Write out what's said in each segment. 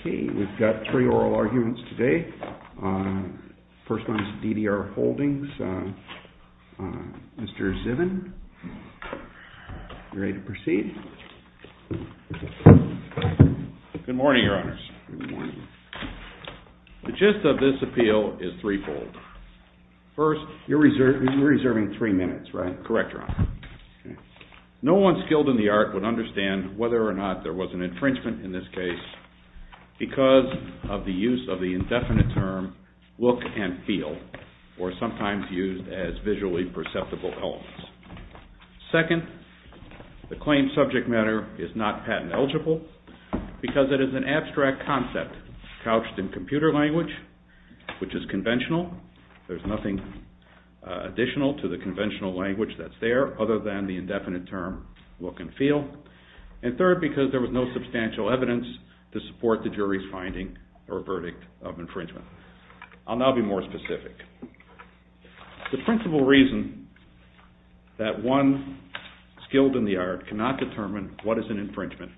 Okay, we've got three oral arguments today. First one is D.D.R. Holdings. Mr. Zivin, are you ready to proceed? Good morning, Your Honors. Good morning. The gist of this appeal is threefold. First, you're reserving three minutes, right? Correct, Your Honor. No one skilled in the art would understand whether or not there was an infringement in this case because of the use of the indefinite term look and feel, or sometimes used as visually perceptible elements. Second, the claimed subject matter is not patent eligible because it is an abstract concept couched in computer language, which is conventional. There's nothing additional to the conventional language that's there other than the indefinite term look and feel. And third, because there was no substantial evidence to support the jury's finding or verdict of infringement. I'll now be more specific. The principal reason that one skilled in the art cannot determine what is an infringement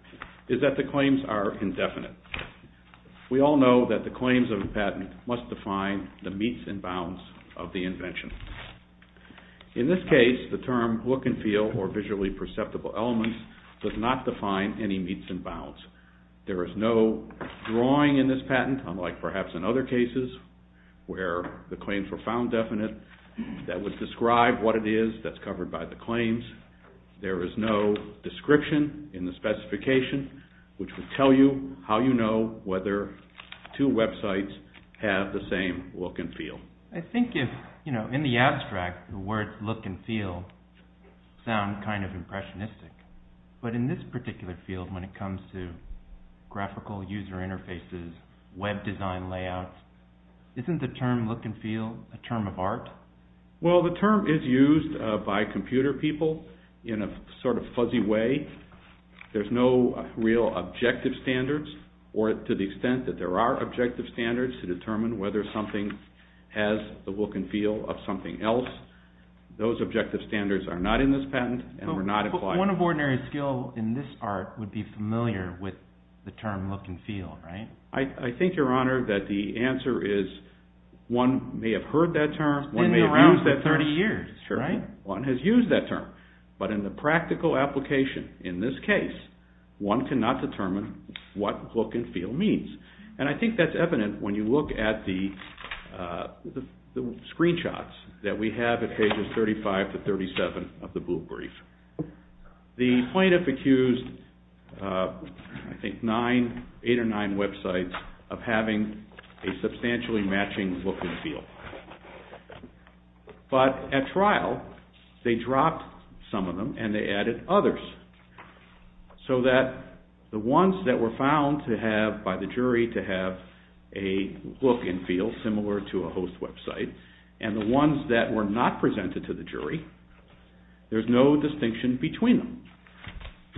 is that the claims are indefinite. We all know that the claims of a patent must define the meets and bounds of the invention. In this case, the term look and feel or visually perceptible elements does not define any meets and bounds. There is no drawing in this patent, unlike perhaps in other cases where the claims were found definite, that would describe what it is that's covered by the claims. There is no description in the specification, which would tell you how you know whether two websites have the same look and feel. I think if, you know, in the abstract, the words look and feel sound kind of impressionistic. But in this particular field, when it comes to graphical user interfaces, web design layouts, isn't the term look and feel a term of art? Well, the term is used by computer people in a sort of fuzzy way. There's no real objective standards or to the extent that there are objective standards to determine whether something has the look and feel of something else. Those objective standards are not in this patent and were not applied. One of ordinary skill in this art would be familiar with the term look and feel, right? I think, Your Honor, that the answer is one may have heard that term, one may have used that term. It's been around for 30 years, right? One has used that term. But in the practical application in this case, one cannot determine what look and feel means. And I think that's evident when you look at the screenshots that we have at pages 35 to 37 of the blue brief. The plaintiff accused, I think, nine, eight or nine websites of having a substantially matching look and feel. But at trial, they dropped some of them and they added others. So that the ones that were found to have, by the jury, to have a look and feel similar to a host website, and the ones that were not presented to the jury, there's no distinction between them.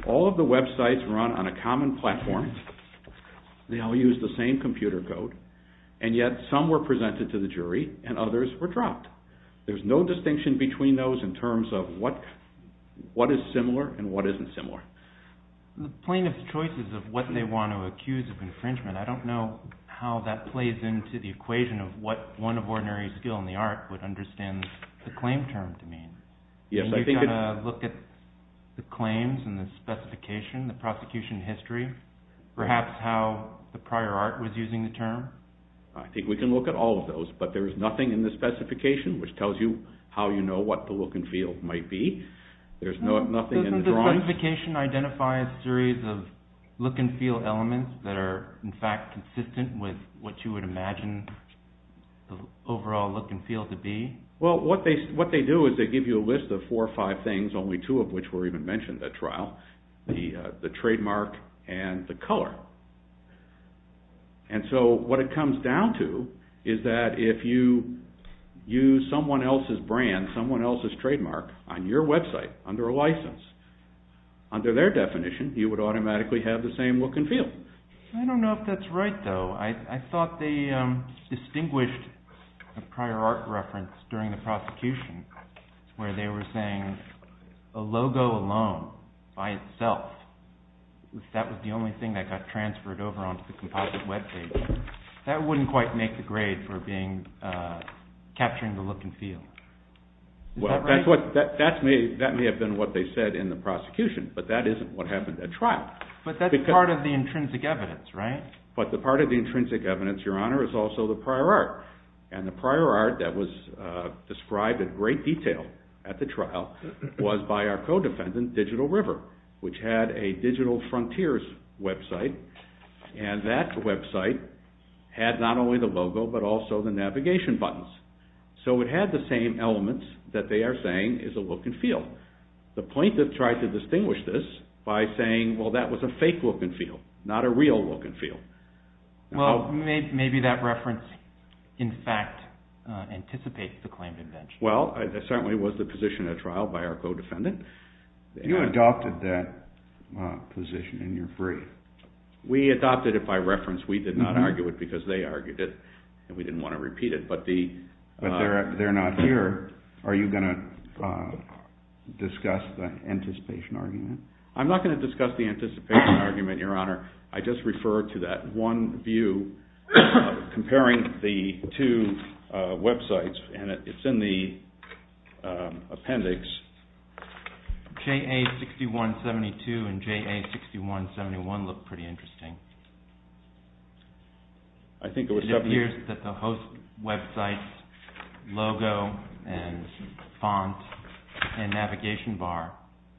All of the websites run on a common platform. They all use the same computer code. And yet some were presented to the jury and others were dropped. There's no distinction between those in terms of what is similar and what isn't similar. The plaintiff's choices of what they want to accuse of infringement, I don't know how that plays into the equation of what one of ordinary skill in the art would understand the claim term to mean. You've got to look at the claims and the specification, the prosecution history, perhaps how the prior art was using the term. I think we can look at all of those. But there is nothing in the specification which tells you how you know what the look and feel might be. Doesn't the specification identify a series of look and feel elements that are in fact consistent with what you would imagine the overall look and feel to be? Well, what they do is they give you a list of four or five things, only two of which were even mentioned at trial, the trademark and the color. And so what it comes down to is that if you use someone else's brand, someone else's trademark on your website under a license, under their definition you would automatically have the same look and feel. I don't know if that's right though. I thought they distinguished a prior art reference during the prosecution where they were saying a logo alone by itself, if that was the only thing that got transferred over onto the composite web page, that wouldn't quite make the grade for capturing the look and feel. Well, that may have been what they said in the prosecution, but that isn't what happened at trial. But that's part of the intrinsic evidence, right? But the part of the intrinsic evidence, Your Honor, is also the prior art. And the prior art that was described in great detail at the trial was by our co-defendant, Digital River, which had a Digital Frontiers website and that website had not only the logo but also the navigation buttons. So it had the same elements that they are saying is a look and feel. The plaintiff tried to distinguish this by saying, well, that was a fake look and feel, not a real look and feel. Well, maybe that reference in fact anticipates the claimed invention. Well, it certainly was the position at trial by our co-defendant. You adopted that position and you're free. We adopted it by reference. We did not argue it because they argued it and we didn't want to repeat it. But they're not here. Are you going to discuss the anticipation argument? I'm not going to discuss the anticipation argument, Your Honor. I just refer to that one view comparing the two websites and it's in the appendix. JA-6172 and JA-6171 look pretty interesting. It appears that the host website's logo and font and navigation bar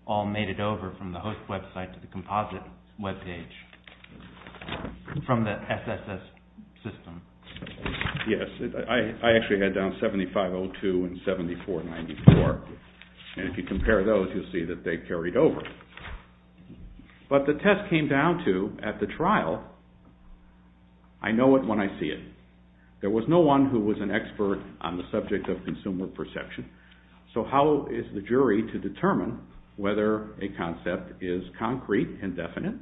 all made it over from the host website to the composite web page from the SSS system. Yes, I actually had down 7502 and 7494 and if you compare those you'll see that they carried over. But the test came down to, at the trial, I know it when I see it. There was no one who was an expert on the subject of consumer perception. So how is the jury to determine whether a concept is concrete and definite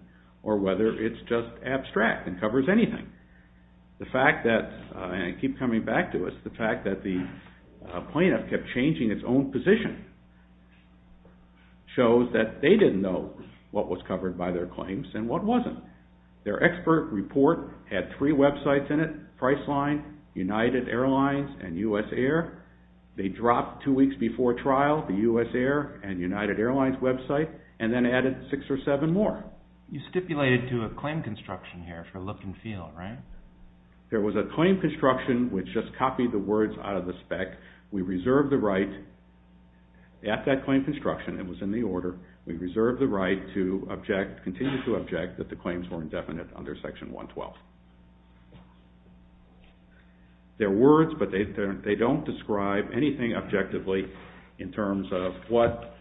or whether it's just abstract and covers anything? The fact that, and I keep coming back to this, the fact that the plaintiff kept changing its own position shows that they didn't know what was covered by their claims and what wasn't. Their expert report had three websites in it, Priceline, United Airlines, and USAir. They dropped two weeks before trial the USAir and United Airlines website and then added six or seven more. You stipulated to a claim construction here for look and feel, right? There was a claim construction which just copied the words out of the spec. We reserved the right at that claim construction, it was in the order, we reserved the right to continue to object that the claims were indefinite under section 112. They're words but they don't describe anything objectively in terms of what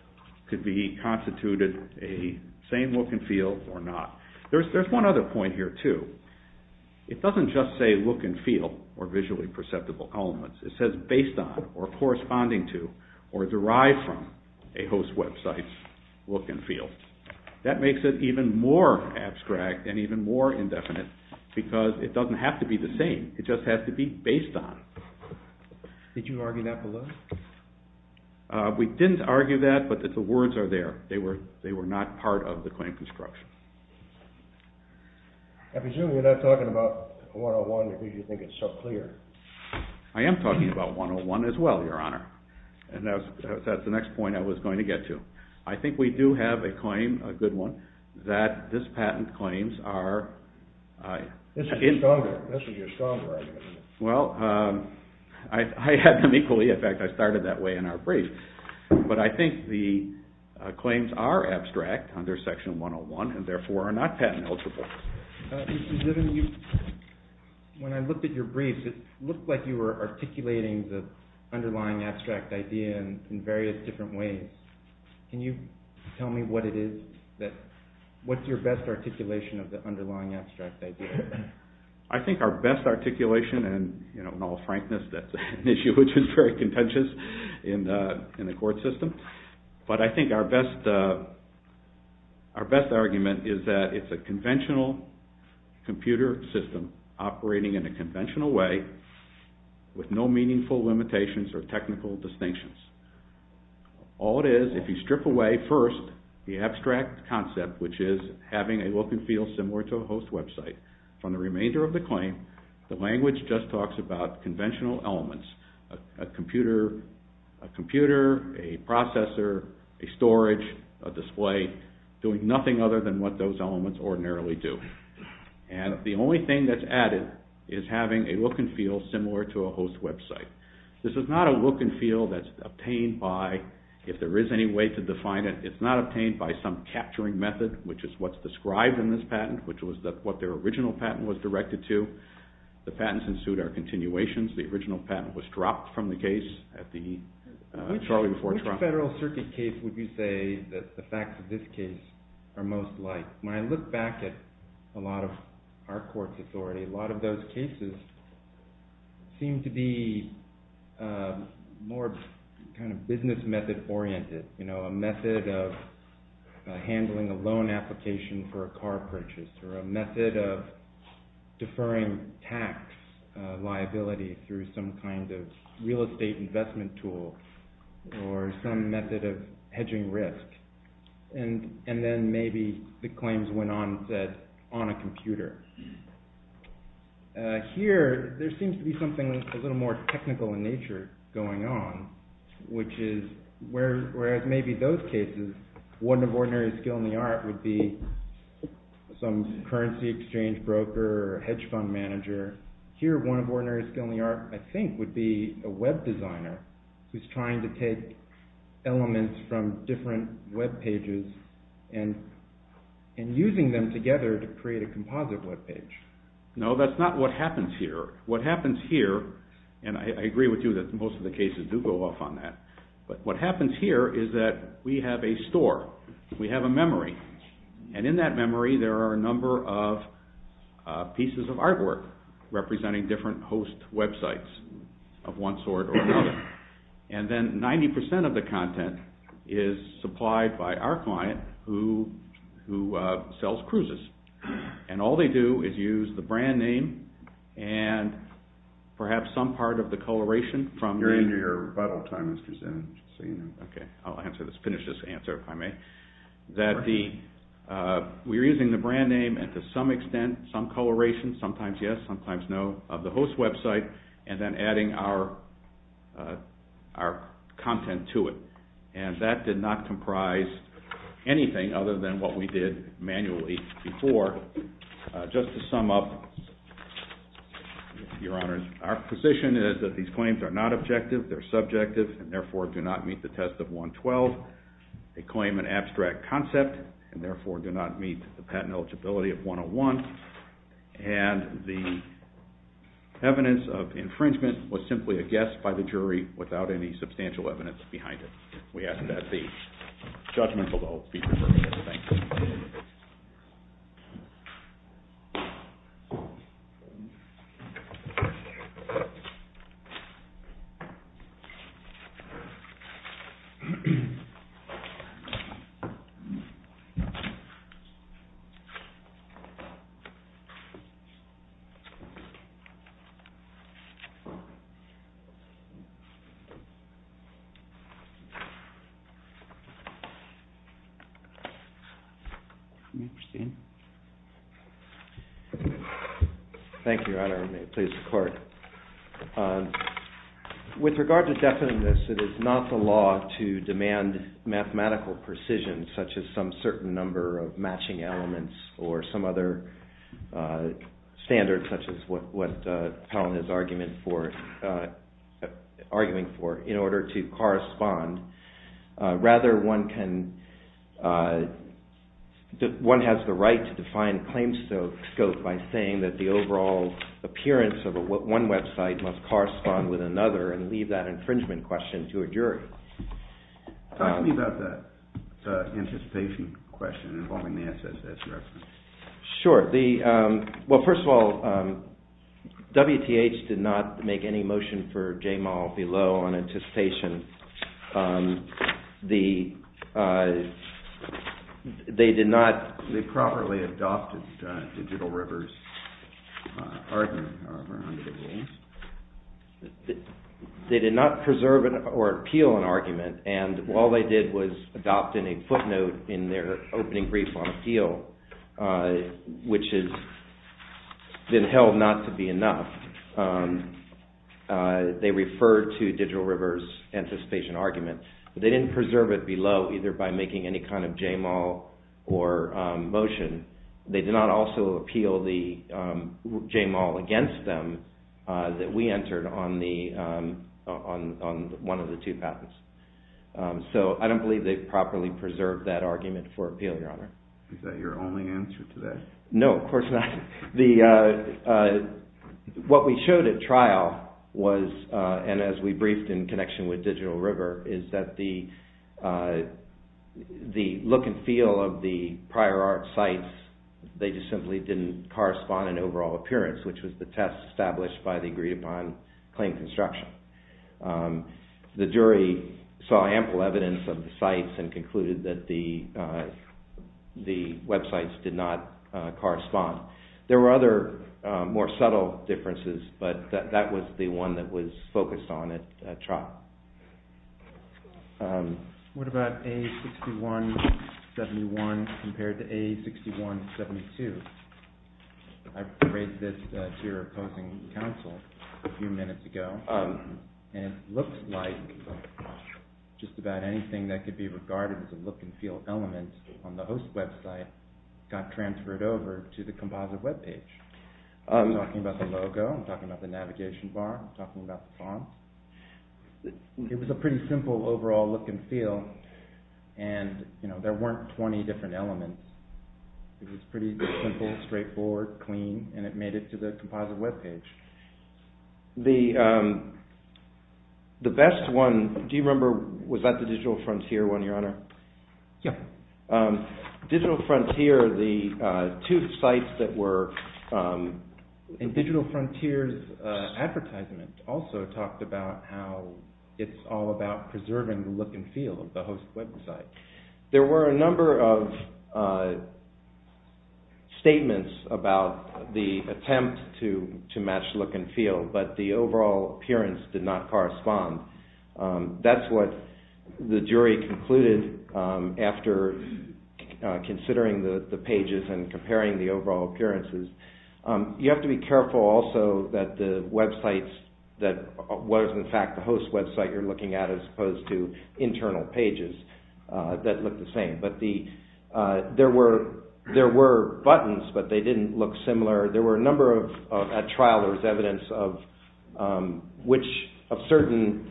could be constituted a same look and feel or not. There's one other point here too. It doesn't just say look and feel or visually perceptible elements. It says based on or corresponding to or derived from a host website's look and feel. That makes it even more abstract and even more indefinite because it doesn't have to be the same. It just has to be based on. Did you argue that below? We didn't argue that but the words are there. They were not part of the claim construction. I presume you're not talking about 101 because you think it's so clear. I am talking about 101 as well, Your Honor. That's the next point I was going to get to. I think we do have a claim, a good one, that this patent claims are… This is your stronger argument. Well, I had them equally. In fact, I started that way in our brief. But I think the claims are abstract under section 101 and therefore are not patent eligible. Mr. Ziven, when I looked at your brief, it looked like you were articulating the underlying abstract idea in various different ways. Can you tell me what it is? What's your best articulation of the underlying abstract idea? I think our best articulation and in all frankness, that's an issue which is very contentious in the court system. But I think our best argument is that it's a conventional computer system operating in a conventional way with no meaningful limitations or technical distinctions. All it is, if you strip away first the abstract concept, which is having a look and feel similar to a host website, from the remainder of the claim, the language just talks about conventional elements. A computer, a processor, a storage, a display, doing nothing other than what those elements ordinarily do. And the only thing that's added is having a look and feel similar to a host website. This is not a look and feel that's obtained by, if there is any way to define it, it's not obtained by some capturing method, which is what's described in this patent, which was what their original patent was directed to. The patents ensued our continuations. The original patent was dropped from the case at the Charlie before Trump. Which Federal Circuit case would you say that the facts of this case are most like? When I look back at a lot of our court's authority, a lot of those cases seem to be more kind of business method oriented. A method of handling a loan application for a car purchase, or a method of deferring tax liability through some kind of real estate investment tool, or some method of hedging risk. And then maybe the claims went on set on a computer. Here, there seems to be something a little more technical in nature going on, which is, whereas maybe those cases, one of ordinary skill in the art would be some currency exchange broker or hedge fund manager. Here, one of ordinary skill in the art, I think, would be a web designer who's trying to take elements from different web pages and using them together to create a composite web page. No, that's not what happens here. What happens here, and I agree with you that most of the cases do go off on that, but what happens here is that we have a store, we have a memory, and in that memory there are a number of pieces of artwork representing different host websites of one sort or another. And then 90% of the content is supplied by our client who sells cruises. And all they do is use the brand name and perhaps some part of the coloration from the... You're into your rebuttal time, Mr. Zinn. I'll finish this answer, if I may. We're using the brand name and to some extent, some coloration, sometimes yes, sometimes no, of the host website, and then adding our content to it. And that did not comprise anything other than what we did manually before. Just to sum up, Your Honors, our position is that these claims are not objective, they're subjective, and therefore do not meet the test of 112. They claim an abstract concept and therefore do not meet the patent eligibility of 101. And the evidence of infringement was simply a guess by the jury without any substantial evidence behind it. We ask that the judgment below be referred to. Thank you. Thank you, Your Honor. May it please the Court. With regard to definiteness, it is not the law to demand mathematical precision, such as some certain number of matching elements or some other standard, such as what Talon is arguing for, in order to correspond to the evidence of infringement. Rather, one has the right to define claim scope by saying that the overall appearance of one website must correspond with another and leave that infringement question to a jury. Talk to me about the anticipation question involving the SSS reference. Sure. Well, first of all, WTH did not make any motion for JMAL below on anticipation. They did not properly adopt Digital River's argument, however, under the rules. They did not preserve or appeal an argument, and all they did was adopt a footnote in their opening brief on appeal, which has been held not to be enough. They referred to Digital River's anticipation argument. They didn't preserve it below, either by making any kind of JMAL or motion. They did not also appeal the JMAL against them that we entered on one of the two patents. So I don't believe they properly preserved that argument for appeal, Your Honor. Is that your only answer to that? No, of course not. What we showed at trial was, and as we briefed in connection with Digital River, is that the look and feel of the prior art sites, they just simply didn't correspond in overall appearance, which was the test established by the agreed-upon claim construction. The jury saw ample evidence of the sites and concluded that the websites did not correspond. There were other more subtle differences, but that was the one that was focused on at trial. What about A6171 compared to A6172? I raised this to your opposing counsel a few minutes ago, and it looks like just about anything that could be regarded as a look and feel element on the host website got transferred over to the composite webpage. I'm talking about the logo, I'm talking about the navigation bar, I'm talking about the font. It was a pretty simple overall look and feel, and there weren't 20 different elements. It was pretty simple, straightforward, clean, and it made it to the composite webpage. The best one, do you remember, was that the Digital Frontier one, Your Honor? Yeah. Digital Frontier, the two sites that were in Digital Frontier's advertisement, also talked about how it's all about preserving the look and feel of the host website. There were a number of statements about the attempt to match look and feel, but the overall appearance did not correspond. That's what the jury concluded after considering the pages and comparing the overall appearances. You have to be careful also that the websites that was, in fact, the host website you're looking at as opposed to internal pages that look the same. There were buttons, but they didn't look similar. At trial, there was evidence of certain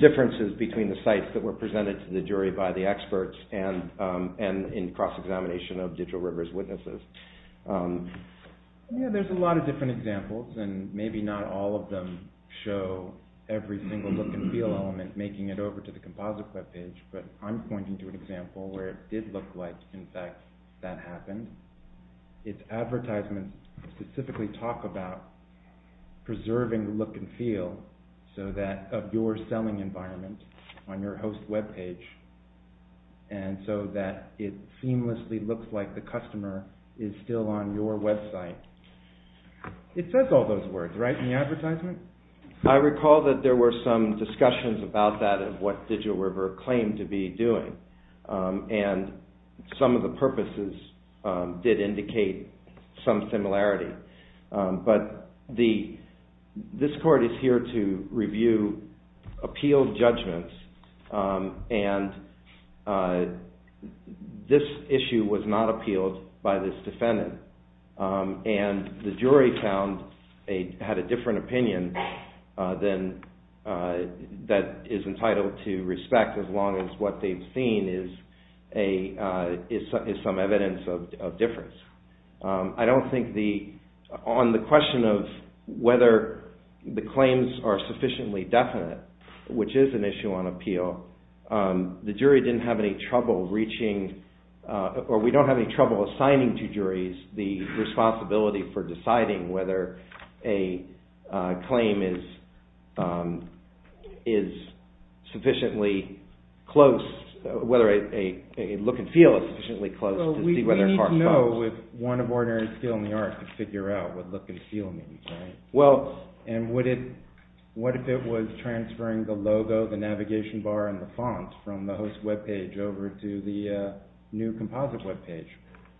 differences between the sites that were presented to the jury by the experts and in cross-examination of Digital River's witnesses. There's a lot of different examples, and maybe not all of them show every single look and feel element making it over to the composite webpage, but I'm pointing to an example where it did look like, in fact, that happened. Its advertisements specifically talk about preserving look and feel of your selling environment on your host webpage, and so that it seamlessly looks like the customer is still on your website. It says all those words, right, in the advertisement? I recall that there were some discussions about that of what Digital River claimed to be doing, and some of the purposes did indicate some similarity, but this court is here to review appealed judgments, and this issue was not appealed by this defendant, and the jury had a different opinion that is entitled to respect as long as what they've seen is some evidence of difference. I don't think on the question of whether the claims are sufficiently definite, which is an issue on appeal, the jury didn't have any trouble reaching, or we don't have any trouble assigning to juries the responsibility for deciding whether a claim is sufficiently close, whether a look and feel is sufficiently close to see whether a cart falls. We need to know with one of ordinary skill in the art to figure out what look and feel means, right? Well, and what if it was transferring the logo, the navigation bar, and the font from the host webpage over to the new composite webpage?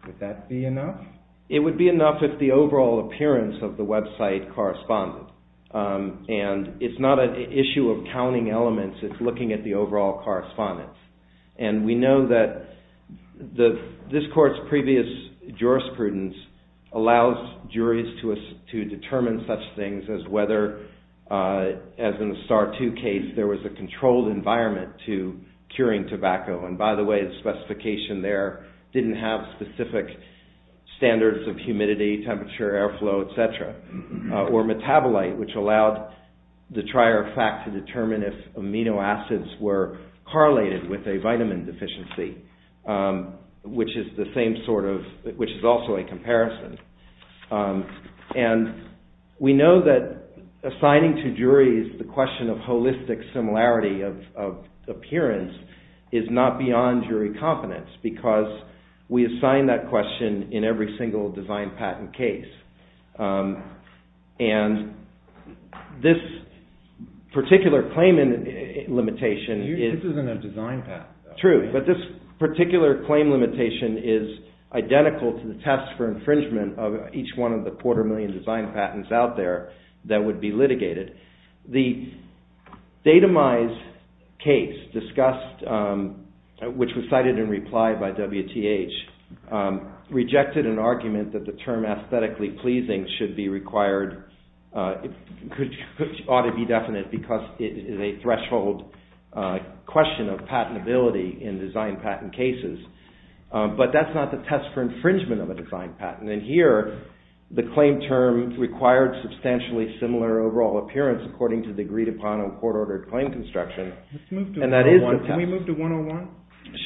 Would that be enough? It would be enough if the overall appearance of the website corresponded, and it's not an issue of counting elements. It's looking at the overall correspondence, and we know that this court's previous jurisprudence allows juries to determine such things as whether, as in the Starr II case, there was a controlled environment to curing tobacco, and by the way, the specification there didn't have specific standards of humidity, temperature, airflow, etc., or metabolite, which allowed the trier fact to determine if amino acids were correlated with a vitamin deficiency, which is also a comparison. And we know that assigning to juries the question of holistic similarity of appearance is not beyond jury confidence, because we assign that question in every single design patent case. And this particular claim limitation is... This isn't a design patent. True, but this particular claim limitation is identical to the test for infringement of each one of the quarter million design patents out there that would be litigated. The datamized case discussed, which was cited in reply by WTH, rejected an argument that the term aesthetically pleasing should be required... ought to be definite, because it is a threshold question of patentability in design patent cases, but that's not the test for infringement of a design patent. And here, the claim term required substantially similar overall appearance according to the agreed-upon and court-ordered claim construction. Can we move to 101?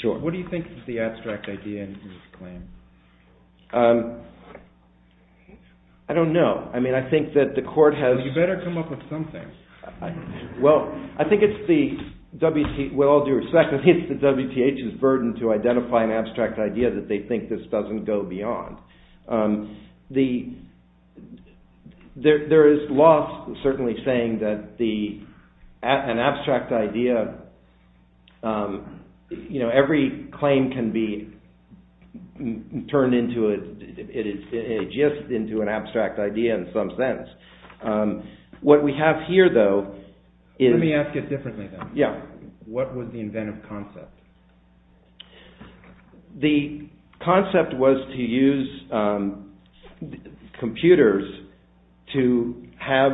Sure. What do you think is the abstract idea in this claim? I don't know. I mean, I think that the court has... You better come up with something. Well, I think it's the WTH's burden to identify an abstract idea that they think this doesn't go beyond. There is loss, certainly, saying that an abstract idea... every claim can be turned into a gist into an abstract idea in some sense. What we have here, though, is... Let me ask it differently, then. Yeah. What was the inventive concept? The concept was to use computers to have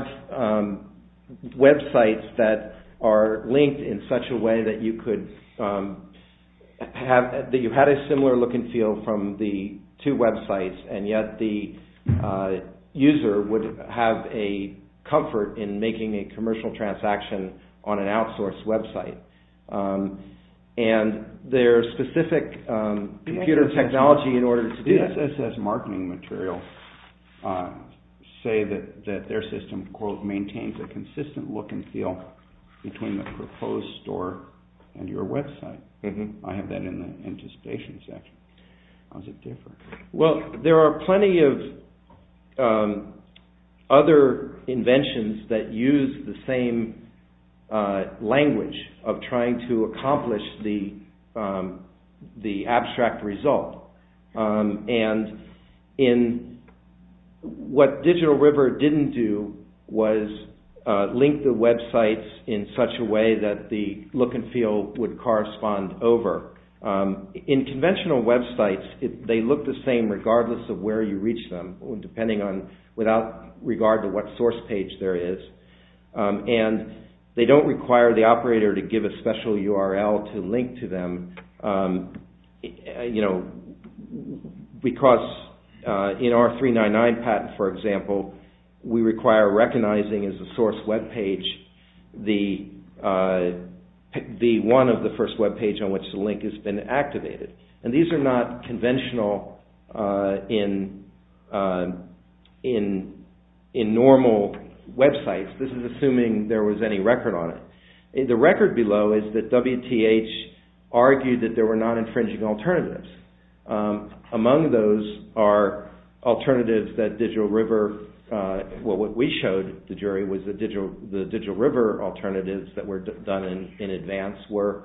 websites that are linked in such a way that you could... that you had a similar look and feel from the two websites, and yet the user would have a comfort in making a commercial transaction on an outsourced website. And there's specific computer technology in order to do that. The SSS marketing materials say that their system, quote, maintains a consistent look and feel between the proposed store and your website. I have that in the anticipation section. How does it differ? Well, there are plenty of other inventions that use the same language of trying to accomplish the abstract result. And what Digital River didn't do was link the websites in such a way that the look and feel would correspond over. In conventional websites, they look the same regardless of where you reach them, depending on... without regard to what source page there is. And they don't require the operator to give a special URL to link to them, you know, because in our 399 patent, for example, we require recognizing as a source webpage the one of the first webpage on which the link has been activated. And these are not conventional in normal websites. This is assuming there was any record on it. The record below is that WTH argued that there were non-infringing alternatives. Among those are alternatives that Digital River... Well, what we showed the jury was that the Digital River alternatives that were done in advance were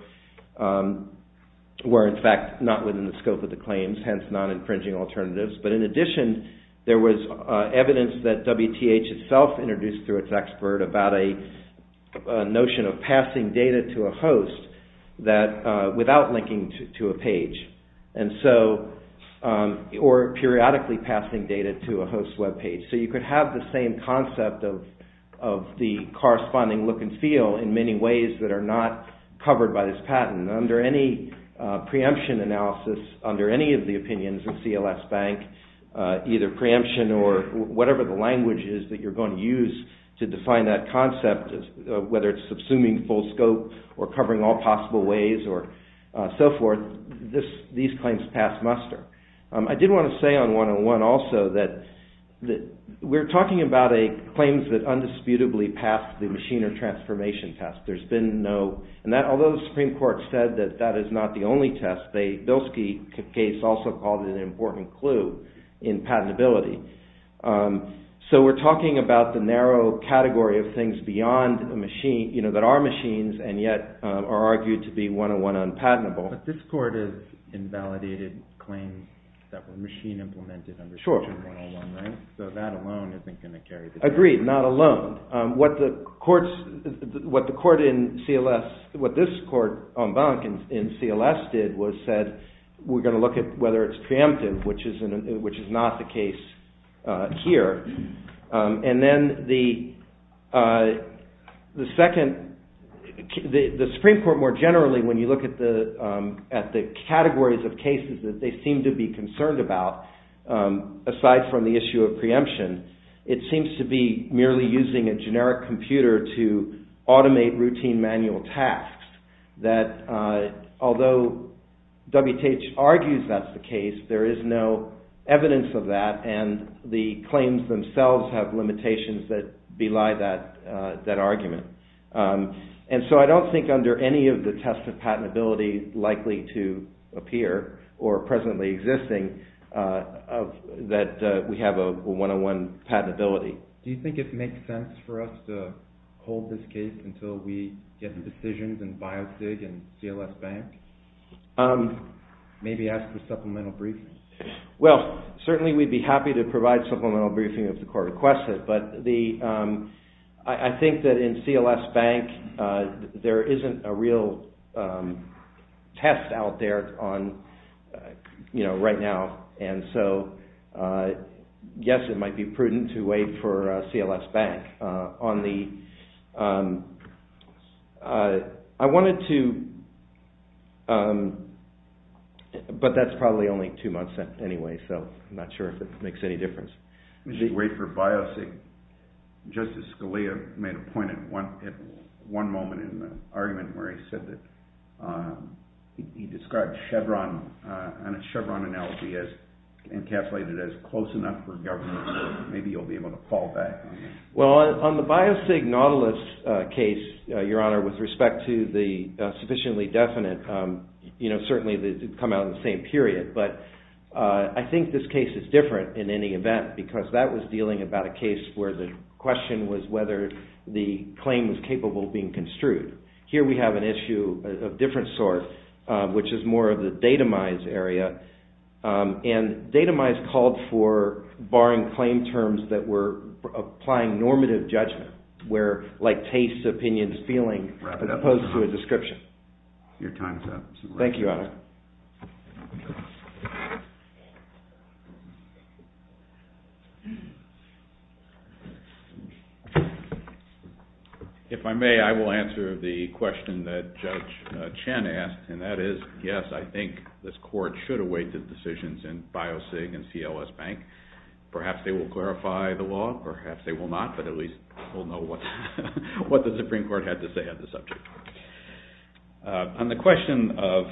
in fact not within the scope of the claims, hence non-infringing alternatives. But in addition, there was evidence that WTH itself introduced through its expert about a notion of passing data to a host without linking to a page, or periodically passing data to a host webpage. So you could have the same concept of the corresponding look and feel in many ways that are not covered by this patent. Under any preemption analysis, under any of the opinions of CLS Bank, either preemption or whatever the language is that you're going to use to define that concept, whether it's assuming full scope or covering all possible ways or so forth, these claims pass muster. I did want to say on 101 also that we're talking about claims that undisputably pass the machine or transformation test. Although the Supreme Court said that that is not the only test, the Bilski case also called it an important clue in patentability. So we're talking about the narrow category of things that are machines and yet are argued to be 101 unpatentable. But this court has invalidated claims that were machine implemented under section 101, right? So that alone isn't going to carry the case. Agreed, not alone. What the court in CLS, what this court in CLS did was said, we're going to look at whether it's preemptive, which is not the case here. And then the Supreme Court more generally, when you look at the categories of cases that they seem to be concerned about, aside from the issue of preemption, it seems to be merely using a generic computer to automate routine manual tasks. That although WTH argues that's the case, there is no evidence of that, and the claims themselves have limitations that belie that argument. And so I don't think under any of the tests of patentability likely to appear, or presently existing, that we have a 101 patentability. Do you think it makes sense for us to hold this case until we get the decisions in Biosig and CLS Bank? Maybe ask the supplemental briefing. Well, certainly we'd be happy to provide supplemental briefing if the court requests it, but I think that in CLS Bank there isn't a real test out there right now, and so yes, it might be prudent to wait for CLS Bank. I wanted to, but that's probably only two months anyway, so I'm not sure if it makes any difference. We should wait for Biosig. Justice Scalia made a point at one moment in the argument where he said that he described Chevron, and a Chevron analogy as encapsulated as close enough for government that maybe you'll be able to call back. Well, on the Biosig Nautilus case, Your Honor, with respect to the sufficiently definite, certainly they come out in the same period, but I think this case is different in any event because that was dealing about a case where the question was whether the claim was capable of being construed. Here we have an issue of different sort, which is more of the datamized area, and datamized called for barring claim terms that were applying normative judgment, like tastes, opinions, feelings, as opposed to a description. Your time is up. Thank you, Your Honor. If I may, I will answer the question that Judge Chen asked, and that is, yes, I think this Court should await the decisions in Biosig and CLS Bank. Perhaps they will clarify the law, perhaps they will not, but at least we'll know what the Supreme Court had to say on the subject. On the question of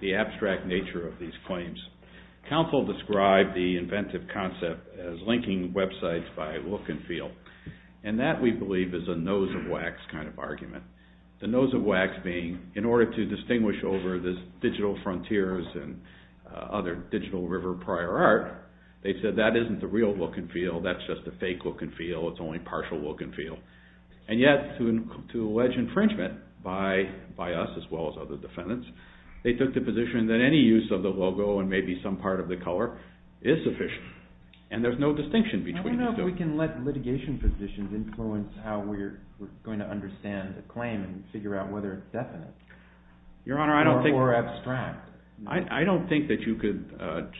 the abstract nature of these claims, counsel described the inventive concept as linking websites by look and feel, and that we believe is a nose-of-wax kind of argument. The nose-of-wax being, in order to distinguish over the digital frontiers and other digital river prior art, they said that isn't the real look and feel, that's just a fake look and feel, it's only partial look and feel. And yet, to allege infringement by us as well as other defendants, they took the position that any use of the logo and maybe some part of the color is sufficient, and there's no distinction between the two. I don't know if we can let litigation positions influence how we're going to understand the claim and figure out whether it's definite. Your Honor, I don't think... Or abstract. I don't think that you could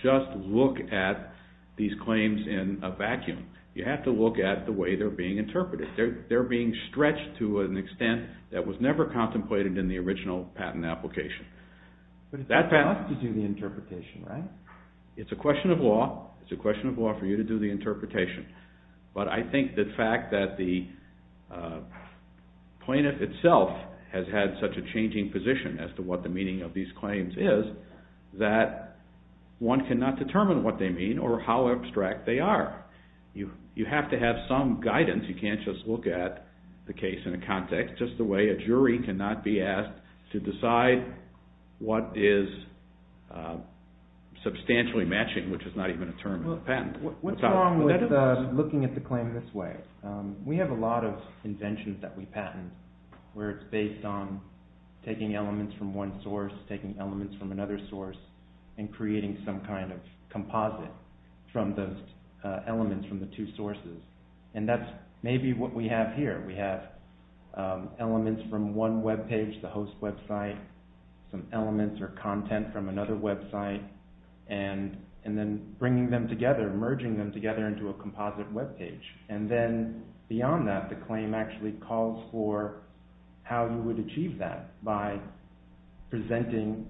just look at these claims in a vacuum. You have to look at the way they're being interpreted. They're being stretched to an extent that was never contemplated in the original patent application. But it's tough to do the interpretation, right? It's a question of law. It's a question of law for you to do the interpretation. But I think the fact that the plaintiff itself has had such a changing position as to what the meaning of these claims is, that one cannot determine what they mean or how abstract they are. You have to have some guidance. You can't just look at the case in a context, just the way a jury cannot be asked to decide What's wrong with looking at the claim this way? We have a lot of inventions that we patent where it's based on taking elements from one source, taking elements from another source, and creating some kind of composite from those elements from the two sources. And that's maybe what we have here. We have elements from one web page, the host website, some elements or content from another website, and then bringing them together, merging them together into a composite web page. And then beyond that, the claim actually calls for how you would achieve that by presenting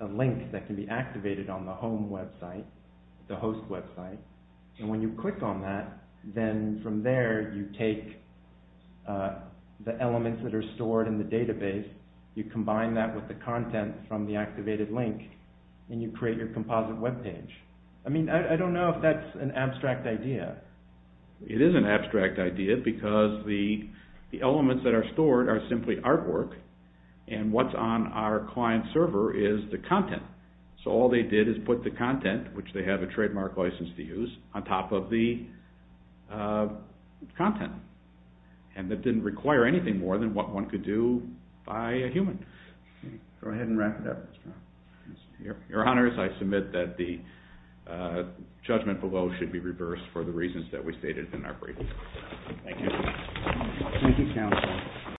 a link that can be activated on the home website, the host website. And when you click on that, then from there you take the elements that are stored in the database, you combine that with the content from the activated link, and you create your composite web page. I mean, I don't know if that's an abstract idea. It is an abstract idea, because the elements that are stored are simply artwork, and what's on our client server is the content. So all they did is put the content, which they have a trademark license to use, on top of the content. And that didn't require anything more than what one could do by a human. Go ahead and wrap it up. Your Honors, I submit that the judgment below should be reversed for the reasons that we stated in our briefing. Thank you. Thank you, counsel.